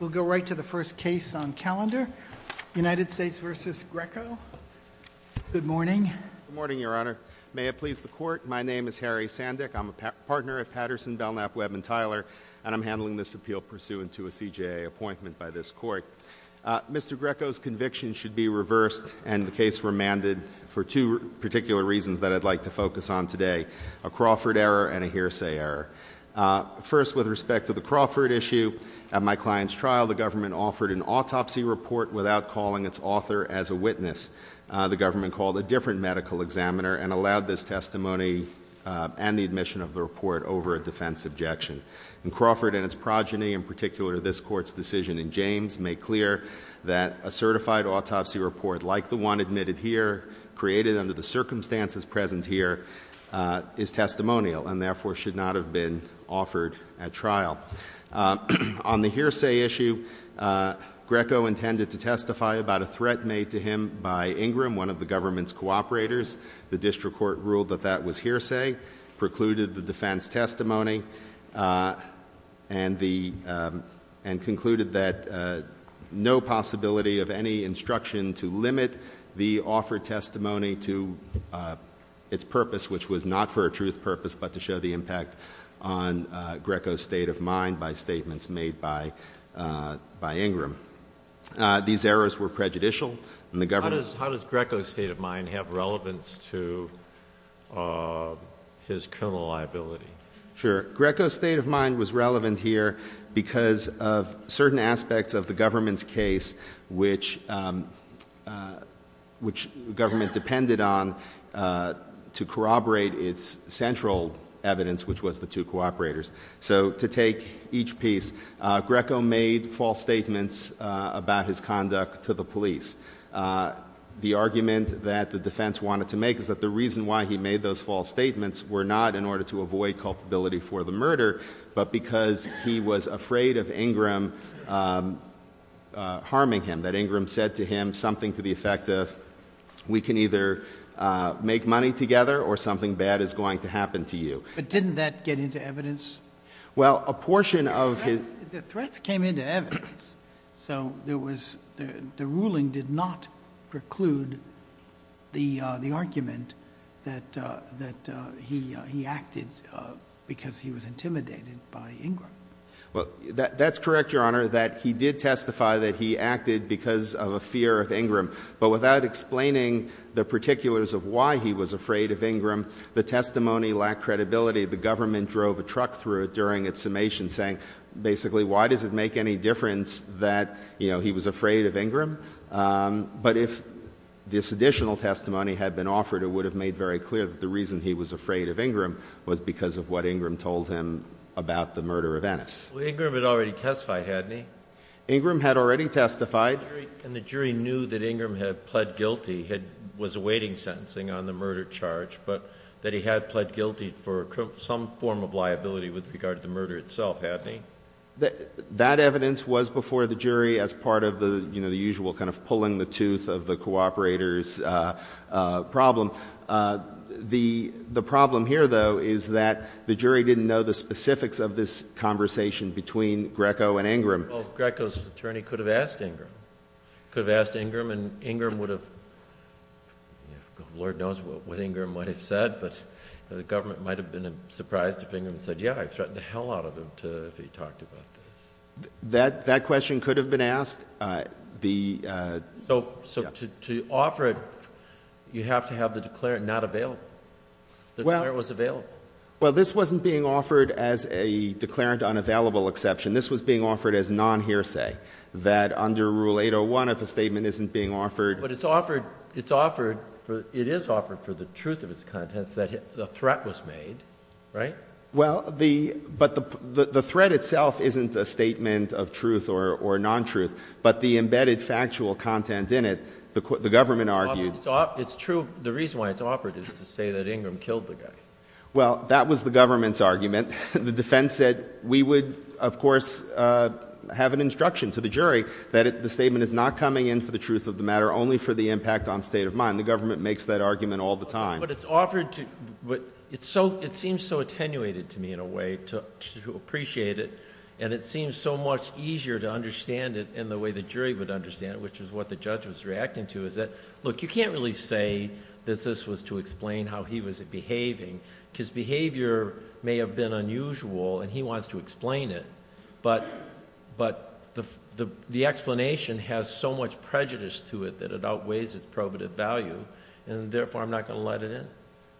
We'll go right to the first case on calendar, United States v. Greco. Good morning. Good morning, Your Honor. May it please the Court, my name is Harry Sandick. I'm a partner at Patterson, Belknap, Webb & Tyler, and I'm handling this appeal pursuant to a CJA appointment by this Court. Mr. Greco's conviction should be reversed and the case remanded for two particular reasons that I'd like to focus on today, a Crawford error and a hearsay error. First, with respect to the Crawford issue, at my client's trial, the government offered an autopsy report without calling its author as a witness. The government called a different medical examiner and allowed this testimony and the admission of the report over a defense objection. And Crawford and its progeny, in particular this Court's decision in James, make clear that a certified autopsy report like the one admitted here, created under the circumstances present here, is testimonial and therefore should not have been offered at trial. On the hearsay issue, Greco intended to testify about a threat made to him by Ingram, one of the government's cooperators. The district court ruled that that was hearsay, precluded the defense testimony, and concluded that no possibility of any instruction to limit the offered testimony to its purpose, which was not for a truth purpose, but to show the impact on Greco's state of mind by statements made by Ingram. These errors were prejudicial and the government- How does Greco's state of mind have relevance to his criminal liability? Sure, Greco's state of mind was relevant here because of certain aspects of the government's case, which government depended on to corroborate its central evidence, which was the two cooperators. So to take each piece, Greco made false statements about his conduct to the police. The argument that the defense wanted to make is that the reason why he made those false statements were not in order to avoid culpability for the murder, but because he was afraid of Ingram harming him. That Ingram said to him something to the effect of, we can either make money together or something bad is going to happen to you. But didn't that get into evidence? Well, a portion of his- The threats came into evidence. So the ruling did not preclude the argument that he acted because he was intimidated by Ingram. Well, that's correct, Your Honor, that he did testify that he acted because of a fear of Ingram. But without explaining the particulars of why he was afraid of Ingram, the testimony lacked credibility. The government drove a truck through it during its summation saying, basically, why does it make any difference that he was afraid of Ingram? But if this additional testimony had been offered, it would have made very clear that the reason he was afraid of Ingram was because of what Ingram told him about the murder of Ennis. Well, Ingram had already testified, hadn't he? Ingram had already testified. And the jury knew that Ingram had pled guilty, was awaiting sentencing on the murder charge, but that he had pled guilty for some form of liability with regard to the murder itself, hadn't he? That evidence was before the jury as part of the usual kind of pulling the tooth of the cooperator's problem. The problem here, though, is that the jury didn't know the specifics of this conversation between Greco and Ingram. Greco's attorney could have asked Ingram. Could have asked Ingram, and Ingram would have, Lord knows what Ingram would have said, but the government might have been surprised if Ingram said, yeah, I'd threaten the hell out of him if he talked about this. That question could have been asked. So to offer it, you have to have the declarant not available. The declarant was available. Well, this wasn't being offered as a declarant on available exception. This was being offered as non-hearsay, that under Rule 801, if a statement isn't being offered- But it's offered, it is offered for the truth of its contents that the threat was made, right? Well, but the threat itself isn't a statement of truth or non-truth, but the embedded factual content in it, the government argued- It's true, the reason why it's offered is to say that Ingram killed the guy. The defense said, we would, of course, have an instruction to the jury that the statement is not coming in for the truth of the matter, only for the impact on state of mind. The government makes that argument all the time. But it's offered to, it seems so attenuated to me, in a way, to appreciate it. And it seems so much easier to understand it in the way the jury would understand it, which is what the judge was reacting to. Is that, look, you can't really say that this was to explain how he was behaving. His behavior may have been unusual, and he wants to explain it. But the explanation has so much prejudice to it that it outweighs its probative value. And therefore, I'm not going to let it in.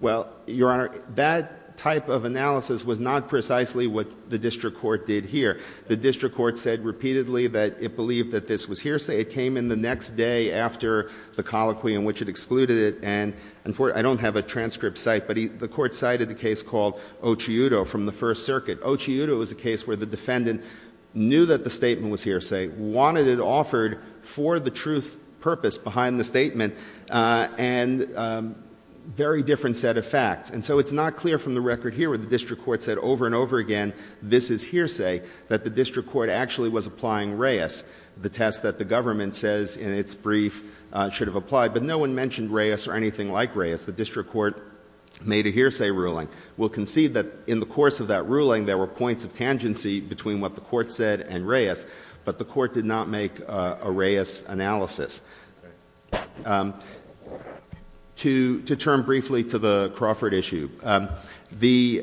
Well, Your Honor, that type of analysis was not precisely what the district court did here. The district court said repeatedly that it believed that this was hearsay. It came in the next day after the colloquy in which it excluded it. And I don't have a transcript site, but the court cited the case called Occiuto from the First Circuit. Occiuto is a case where the defendant knew that the statement was hearsay, wanted it offered for the truth purpose behind the statement, and very different set of facts. And so it's not clear from the record here where the district court said over and over again, this is hearsay. That the district court actually was applying Reyes, the test that the government says in its brief should have applied. But no one mentioned Reyes or anything like Reyes. The district court made a hearsay ruling. We'll concede that in the course of that ruling, there were points of tangency between what the court said and Reyes. But the court did not make a Reyes analysis. To turn briefly to the Crawford issue. The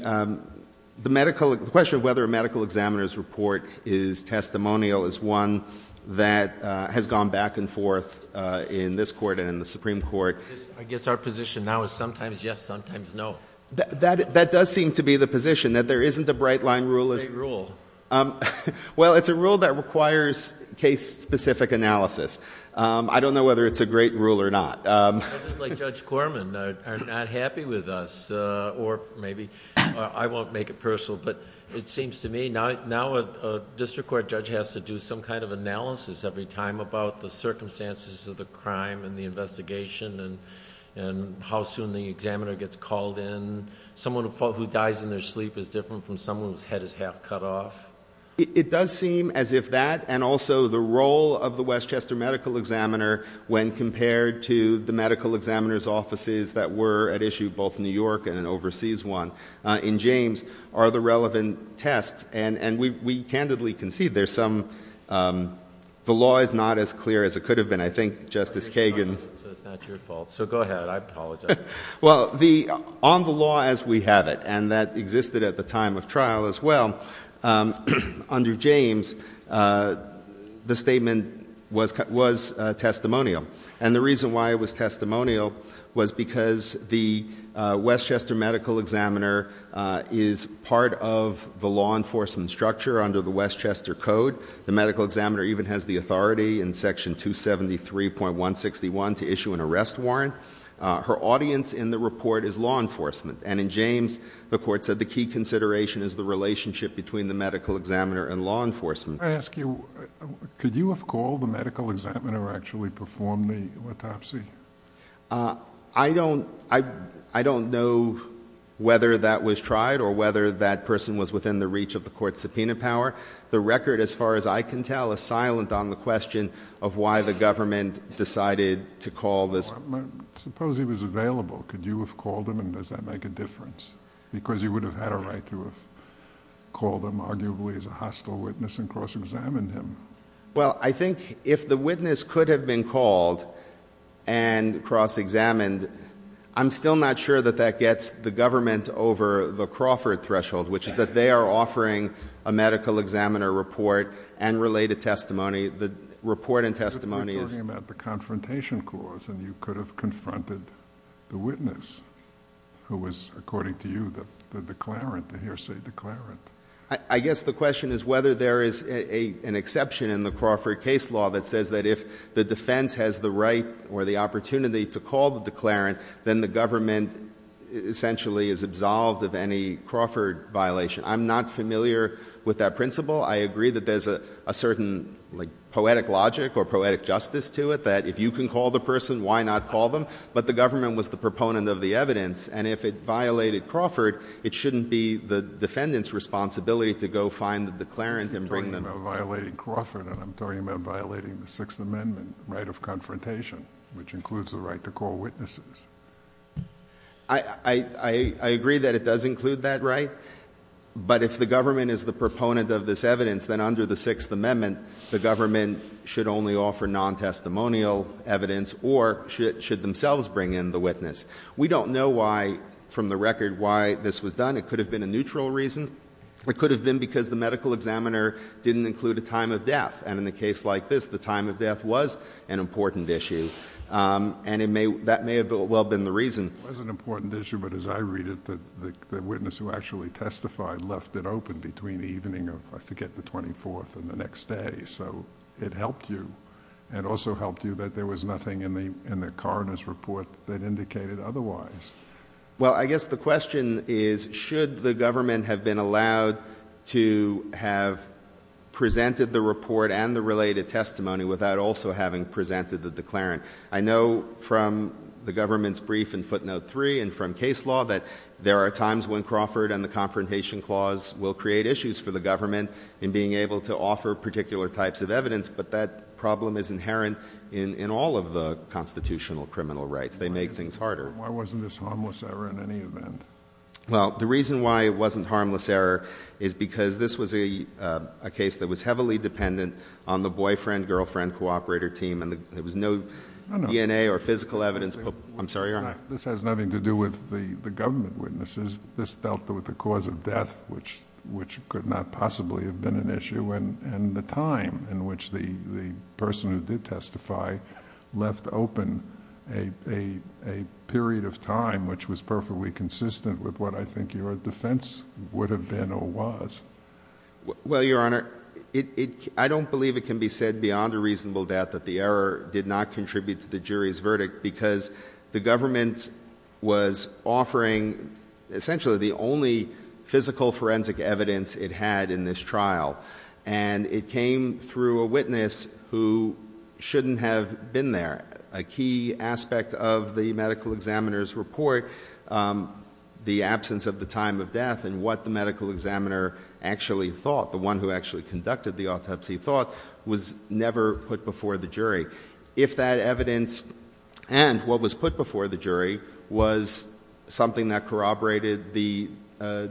question of whether a medical examiner's report is testimonial is one that has gone back and forth in this court and in the Supreme Court. I guess our position now is sometimes yes, sometimes no. That does seem to be the position, that there isn't a bright line rule. What's the rule? Well, it's a rule that requires case specific analysis. I don't know whether it's a great rule or not. I think like Judge Corman are not happy with us, or maybe I won't make it personal. But it seems to me now a district court judge has to do some kind of analysis every time about the circumstances of the crime and the investigation and how soon the examiner gets called in. Someone who dies in their sleep is different from someone whose head is half cut off. It does seem as if that and also the role of the Westchester medical examiner when compared to the medical examiner's offices that were at issue both in New York and an overseas one in James. Are the relevant tests, and we candidly concede there's some, the law is not as clear as it could have been. I think Justice Kagan- So it's not your fault, so go ahead, I apologize. Well, on the law as we have it, and that existed at the time of trial as well, under James, the statement was testimonial. And the reason why it was testimonial was because the Westchester medical examiner is part of the law enforcement structure under the Westchester Code. The medical examiner even has the authority in section 273.161 to issue an arrest warrant. Her audience in the report is law enforcement. And in James, the court said the key consideration is the relationship between the medical examiner and law enforcement. I ask you, could you have called the medical examiner or actually performed the autopsy? I don't know whether that was tried or whether that person was within the reach of the court's subpoena power. The record, as far as I can tell, is silent on the question of why the government decided to call this- Suppose he was available. Could you have called him and does that make a difference? Because you would have had a right to have called him, arguably, as a hostile witness and cross-examined him. Well, I think if the witness could have been called and cross-examined, I'm still not sure that that gets the government over the Crawford threshold, which is that they are offering a medical examiner report and related testimony. The report and testimony is- You're talking about the confrontation clause, and you could have confronted the witness, who was, according to you, the declarant, the hearsay declarant. I guess the question is whether there is an exception in the Crawford case law that says that if the defense has the right or the opportunity to call the declarant, then the government essentially is absolved of any Crawford violation. I'm not familiar with that principle. I agree that there's a certain poetic logic or poetic justice to it, that if you can call the person, why not call them? But the government was the proponent of the evidence. And if it violated Crawford, it shouldn't be the defendant's responsibility to go find the declarant and bring them- You're talking about violating Crawford, and I'm talking about violating the Sixth Amendment right of confrontation, which includes the right to call witnesses. I agree that it does include that right. But if the government is the proponent of this evidence, then under the Sixth Amendment, the government should only offer non-testimonial evidence or should themselves bring in the witness. We don't know why, from the record, why this was done. It could have been a neutral reason. It could have been because the medical examiner didn't include a time of death. And in a case like this, the time of death was an important issue, and that may have well been the reason. It was an important issue, but as I read it, the witness who actually testified left it open between the evening of, I forget, the 24th and the next day. So it helped you, and also helped you that there was nothing in the coroner's report that indicated otherwise. Well, I guess the question is, should the government have been allowed to have presented the report and the related testimony without also having presented the declarant? I know from the government's brief in footnote three and from case law that there are times when Crawford and other types of evidence, but that problem is inherent in all of the constitutional criminal rights. They make things harder. Why wasn't this harmless error in any event? Well, the reason why it wasn't harmless error is because this was a case that was heavily dependent on the boyfriend, girlfriend, cooperator team, and there was no DNA or physical evidence. I'm sorry, Your Honor. This has nothing to do with the government witnesses. This dealt with the cause of death, which could not possibly have been an issue, and the time in which the person who did testify left open a period of time, which was perfectly consistent with what I think your defense would have been or was. Well, Your Honor, I don't believe it can be said beyond a reasonable doubt that the error did not contribute to the jury's verdict. Because the government was offering essentially the only physical forensic evidence it had in this trial. And it came through a witness who shouldn't have been there. A key aspect of the medical examiner's report, the absence of the time of death and what the medical examiner actually thought, the one who actually conducted the autopsy thought, was never put before the jury. If that evidence and what was put before the jury was something that corroborated the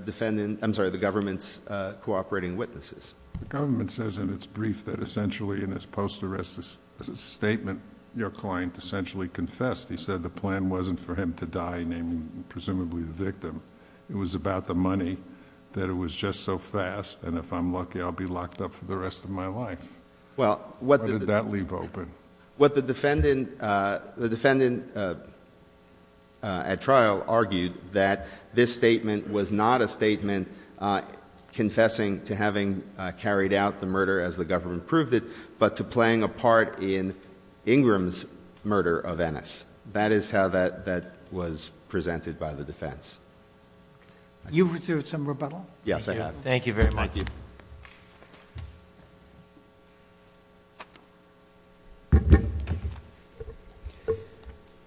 defendant, I'm sorry, the government's cooperating witnesses. The government says in its brief that essentially in its post-arrest statement, your client essentially confessed. He said the plan wasn't for him to die, naming presumably the victim. It was about the money, that it was just so fast, and if I'm lucky, I'll be locked up for the rest of my life. Well, what- Why did that leave open? What the defendant at trial argued, that this statement was not a statement confessing to having carried out the murder as the government proved it, but to playing a part in Ingram's murder of Ennis. That is how that was presented by the defense. You've received some rebuttal? Yes, I have. Thank you very much. Thank you.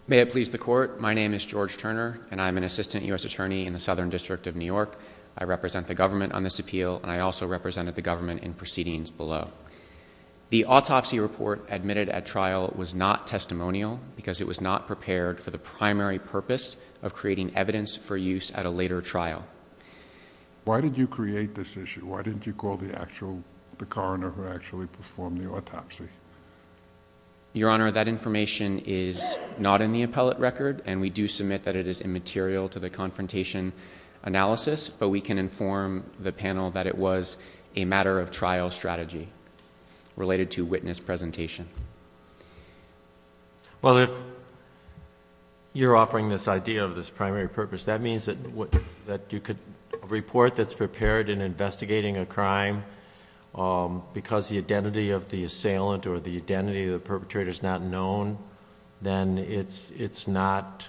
May it please the court, my name is George Turner, and I'm an assistant US attorney in the Southern District of New York. I represent the government on this appeal, and I also represented the government in proceedings below. The autopsy report admitted at trial was not testimonial because it was not prepared for the primary purpose of creating evidence for use at a later trial. Why did you create this issue? Why didn't you call the actual, the coroner who actually performed the autopsy? Your Honor, that information is not in the appellate record, and we do submit that it is immaterial to the confrontation analysis, but we can inform the panel that it was a matter of trial strategy related to witness presentation. Well, if you're offering this idea of this primary purpose, that means that you could report that's prepared in investigating a crime because the identity of the assailant or the identity of the perpetrator is not known, then it does not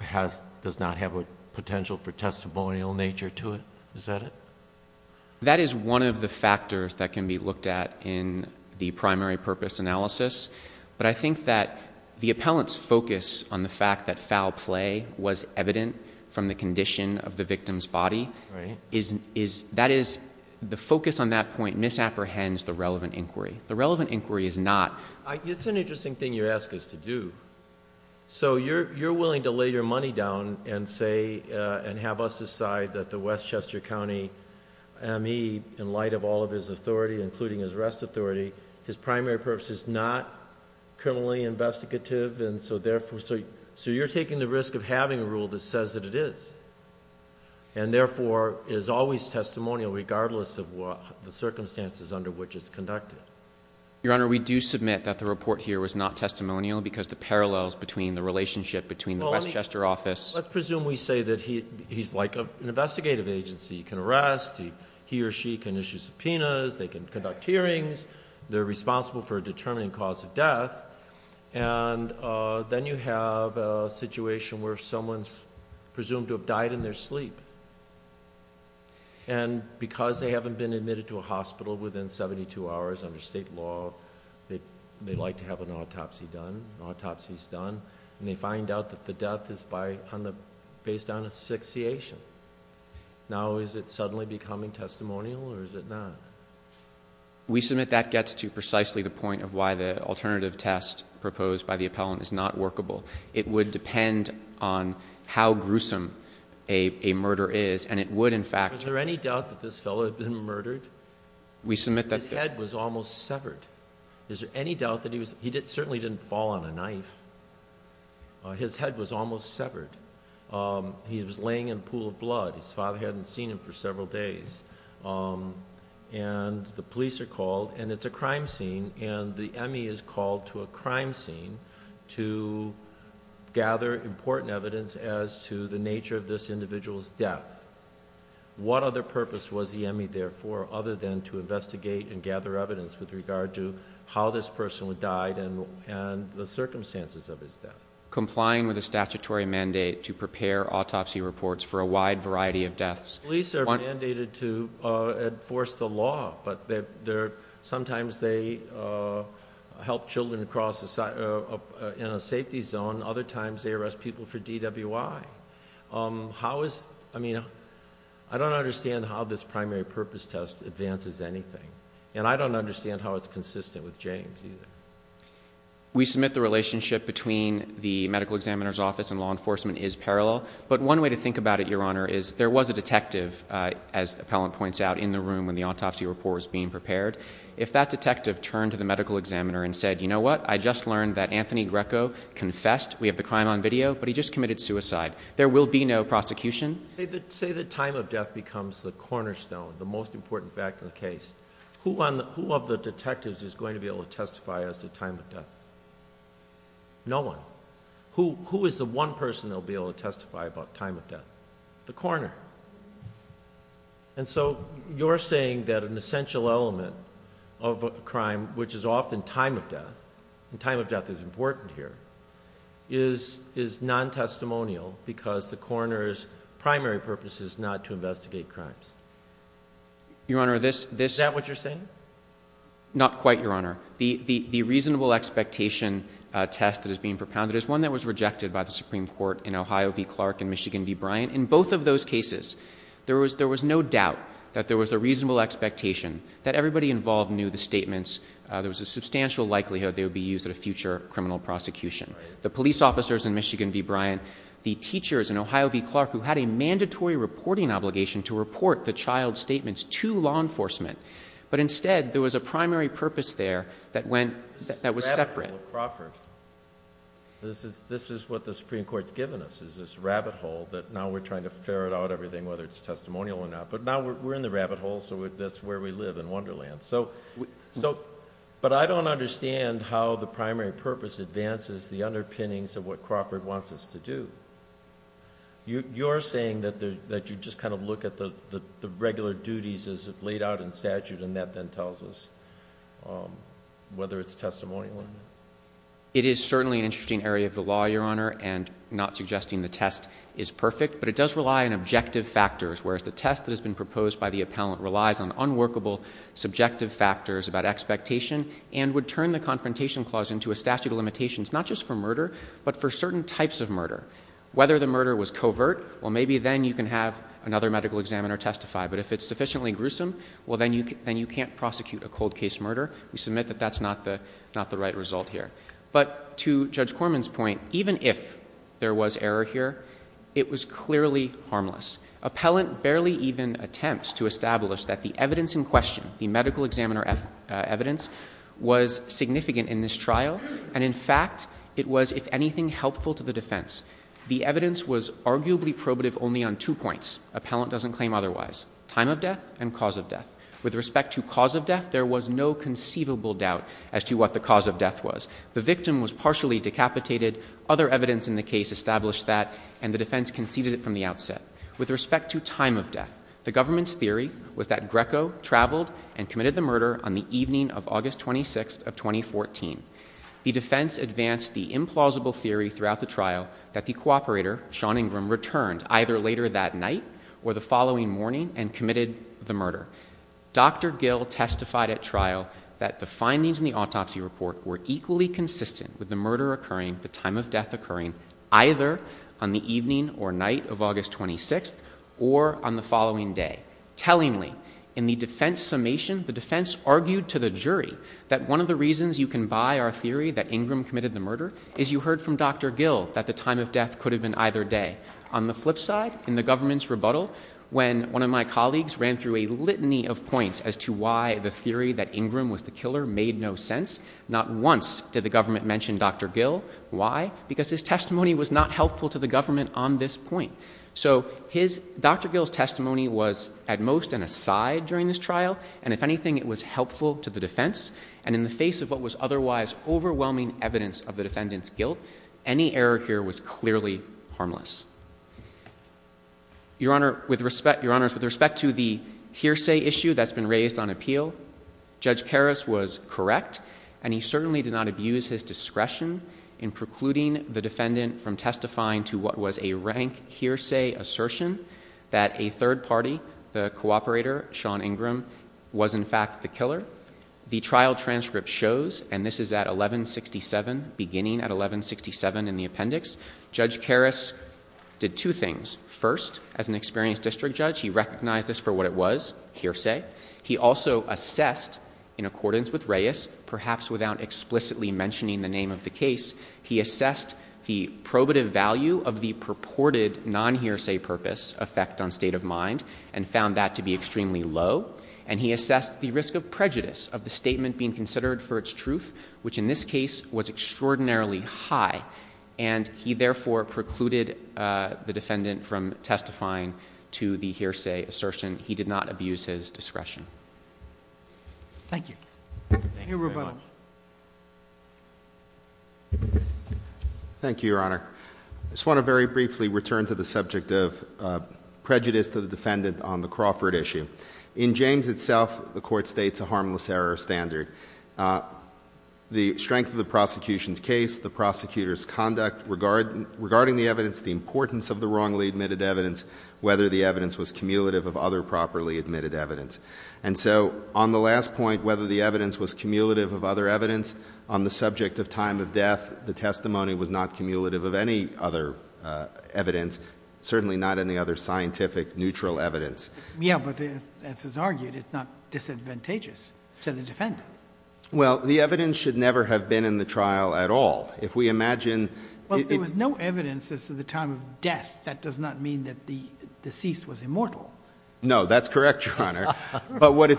have a potential for testimonial nature to it. Is that it? That is one of the factors that can be looked at in the primary purpose analysis. But I think that the appellant's focus on the fact that foul play was evident from the condition of the victim's body. Right. That is, the focus on that point misapprehends the relevant inquiry. The relevant inquiry is not. It's an interesting thing you ask us to do. So you're willing to lay your money down and say, and have us decide that the West Chester County, am he, in light of all of his authority, including his arrest authority, his primary purpose is not criminally investigative. And so therefore, so you're taking the risk of having a rule that says that it is. And therefore, is always testimonial regardless of what the circumstances under which it's conducted. Your Honor, we do submit that the report here was not testimonial because the parallels between the relationship between the West Chester office. Let's presume we say that he's like an investigative agency, he can arrest, he or she can issue subpoenas, they can conduct hearings. They're responsible for determining cause of death. And then you have a situation where someone's presumed to have died in their sleep. And because they haven't been admitted to a hospital within 72 hours under state law, they'd like to have an autopsy done, an autopsy's done, and they find out that the death is based on asphyxiation. Now is it suddenly becoming testimonial or is it not? We submit that gets to precisely the point of why the alternative test proposed by the appellant is not workable. It would depend on how gruesome a murder is, and it would in fact- Is there any doubt that this fellow had been murdered? We submit that- His head was almost severed. Is there any doubt that he was, he certainly didn't fall on a knife, his head was almost severed. He was laying in a pool of blood, his father hadn't seen him for several days, and the police are called, and it's a crime scene, and the ME is called to a crime scene to gather important evidence as to the nature of this individual's death. What other purpose was the ME there for other than to investigate and gather evidence with regard to how this person died and the circumstances of his death? Complying with a statutory mandate to prepare autopsy reports for a wide variety of deaths. Police are mandated to enforce the law, but sometimes they help children in a safety zone, other times they arrest people for DWI. How is, I mean, I don't understand how this primary purpose test advances anything. And I don't understand how it's consistent with James either. We submit the relationship between the medical examiner's office and law enforcement is parallel. But one way to think about it, your honor, is there was a detective, as appellant points out, in the room when the autopsy report was being prepared. If that detective turned to the medical examiner and said, you know what, I just learned that Anthony Greco confessed. We have the crime on video, but he just committed suicide. There will be no prosecution. Say that time of death becomes the cornerstone, the most important fact of the case. Who of the detectives is going to be able to testify as to time of death? No one. Who is the one person that will be able to testify about time of death? The coroner. And so you're saying that an essential element of a crime, which is often time of death, and time of death is important here, is non-testimonial because the coroner's primary purpose is not to investigate crimes. Your honor, this- Is that what you're saying? Not quite, your honor. The reasonable expectation test that is being propounded is one that was rejected by the Supreme Court in Ohio v. Clark and Michigan v. Bryant. In both of those cases, there was no doubt that there was a reasonable expectation that everybody involved knew the statements. There was a substantial likelihood they would be used at a future criminal prosecution. The police officers in Michigan v. Bryant, the teachers in Ohio v. Clark who had a mandatory reporting obligation to report the child's statements to law enforcement. But instead, there was a primary purpose there that went, that was separate. This is the rabbit hole at Crawford. This is what the Supreme Court's given us, is this rabbit hole that now we're trying to ferret out everything, whether it's testimonial or not. But now we're in the rabbit hole, so that's where we live, in Wonderland. So, but I don't understand how the primary purpose advances the underpinnings of what Crawford wants us to do. You're saying that you just kind of look at the regular duties as laid out in statute and that then tells us whether it's testimonial or not. It is certainly an interesting area of the law, your honor, and not suggesting the test is perfect. But it does rely on objective factors, whereas the test that has been proposed by the appellant relies on unworkable, subjective factors about expectation and would turn the confrontation clause into a statute of limitations, not just for murder, but for certain types of murder. Whether the murder was covert, well maybe then you can have another medical examiner testify. But if it's sufficiently gruesome, well then you can't prosecute a cold case murder. We submit that that's not the right result here. But to Judge Corman's point, even if there was error here, it was clearly harmless. Appellant barely even attempts to establish that the evidence in question, the medical examiner evidence, was significant in this trial. And in fact, it was, if anything, helpful to the defense. The evidence was arguably probative only on two points. Appellant doesn't claim otherwise. Time of death and cause of death. With respect to cause of death, there was no conceivable doubt as to what the cause of death was. The victim was partially decapitated. Other evidence in the case established that, and the defense conceded it from the outset. With respect to time of death, the government's theory was that Greco traveled and committed the murder on the evening of August 26th of 2014. The defense advanced the implausible theory throughout the trial that the cooperator, Sean Ingram, returned either later that night or the following morning and committed the murder. Dr. Gill testified at trial that the findings in the autopsy report were equally consistent with the murder occurring, the time of death occurring, either on the evening or night of August 26th or on the following day. Tellingly, in the defense summation, the defense argued to the jury that one of the reasons you can buy our theory that Ingram committed the murder is you heard from Dr. Gill that the time of death could have been either day. On the flip side, in the government's rebuttal, when one of my colleagues ran through a litany of points as to why the theory that Ingram was the killer made no sense. Not once did the government mention Dr. Gill. Why? Because his testimony was not helpful to the government on this point. So Dr. Gill's testimony was at most an aside during this trial. And if anything, it was helpful to the defense. And in the face of what was otherwise overwhelming evidence of the defendant's guilt, any error here was clearly harmless. Your Honor, with respect to the hearsay issue that's been raised on appeal, Judge Karras was correct and he certainly did not abuse his discretion in precluding the defendant from testifying to what was a rank hearsay assertion that a third party, the cooperator, Sean Ingram, was in fact the killer. The trial transcript shows, and this is at 1167, beginning at 1167 in the appendix. Judge Karras did two things. First, as an experienced district judge, he recognized this for what it was, hearsay. He also assessed, in accordance with Reyes, perhaps without explicitly mentioning the name of the case, he assessed the probative value of the purported non-hearsay purpose effect on state of mind and found that to be extremely low. And he assessed the risk of prejudice of the statement being considered for its truth, which in this case was extraordinarily high. And he therefore precluded the defendant from testifying to the hearsay assertion. He did not abuse his discretion. Thank you. Thank you very much. Thank you, Your Honor. I just want to very briefly return to the subject of prejudice to the defendant on the Crawford issue. In James itself, the court states a harmless error standard. The strength of the prosecution's case, the prosecutor's conduct regarding the evidence, the importance of the wrongly admitted evidence, whether the evidence was cumulative of other properly admitted evidence. And so on the last point, whether the evidence was cumulative of other evidence on the subject of time of death, the testimony was not cumulative of any other evidence, certainly not any other scientific neutral evidence. Yeah, but as is argued, it's not disadvantageous to the defendant. Well, the evidence should never have been in the trial at all. If we imagine- Well, if there was no evidence as to the time of death, that does not mean that the deceased was immortal. No, that's correct, Your Honor. But what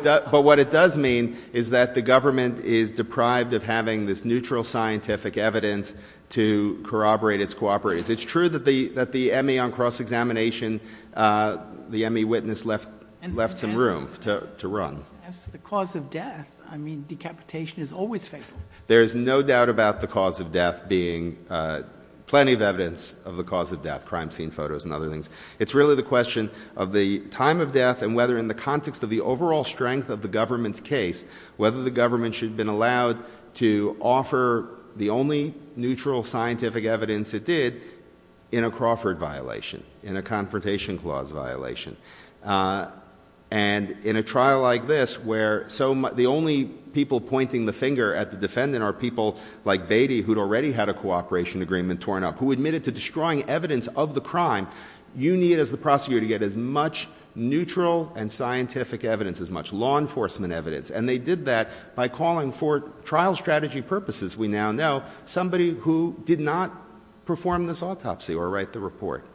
it does mean is that the government is deprived of having this neutral scientific evidence to corroborate its cooperatives. It's true that the ME on cross-examination, the ME witness left some room to run. As to the cause of death, I mean, decapitation is always fatal. There's no doubt about the cause of death being plenty of evidence of the cause of death, crime scene photos and other things. It's really the question of the time of death and whether in the context of the overall strength of the government's case, whether the government should have been allowed to offer the only neutral scientific evidence it did in a Crawford violation, in a confrontation clause violation. And in a trial like this, where the only people pointing the finger at the defendant are people like Beatty, who'd already had a cooperation agreement torn up, who admitted to destroying evidence of the crime, you need, as the prosecutor, to get as much neutral and scientific evidence, as much law enforcement evidence. And they did that by calling for trial strategy purposes, we now know, somebody who did not perform this autopsy or write the report.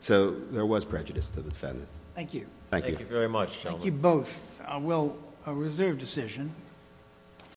So there was prejudice to the defendant. Thank you. Thank you very much, gentlemen. Thank you both. Well, a reserve decision.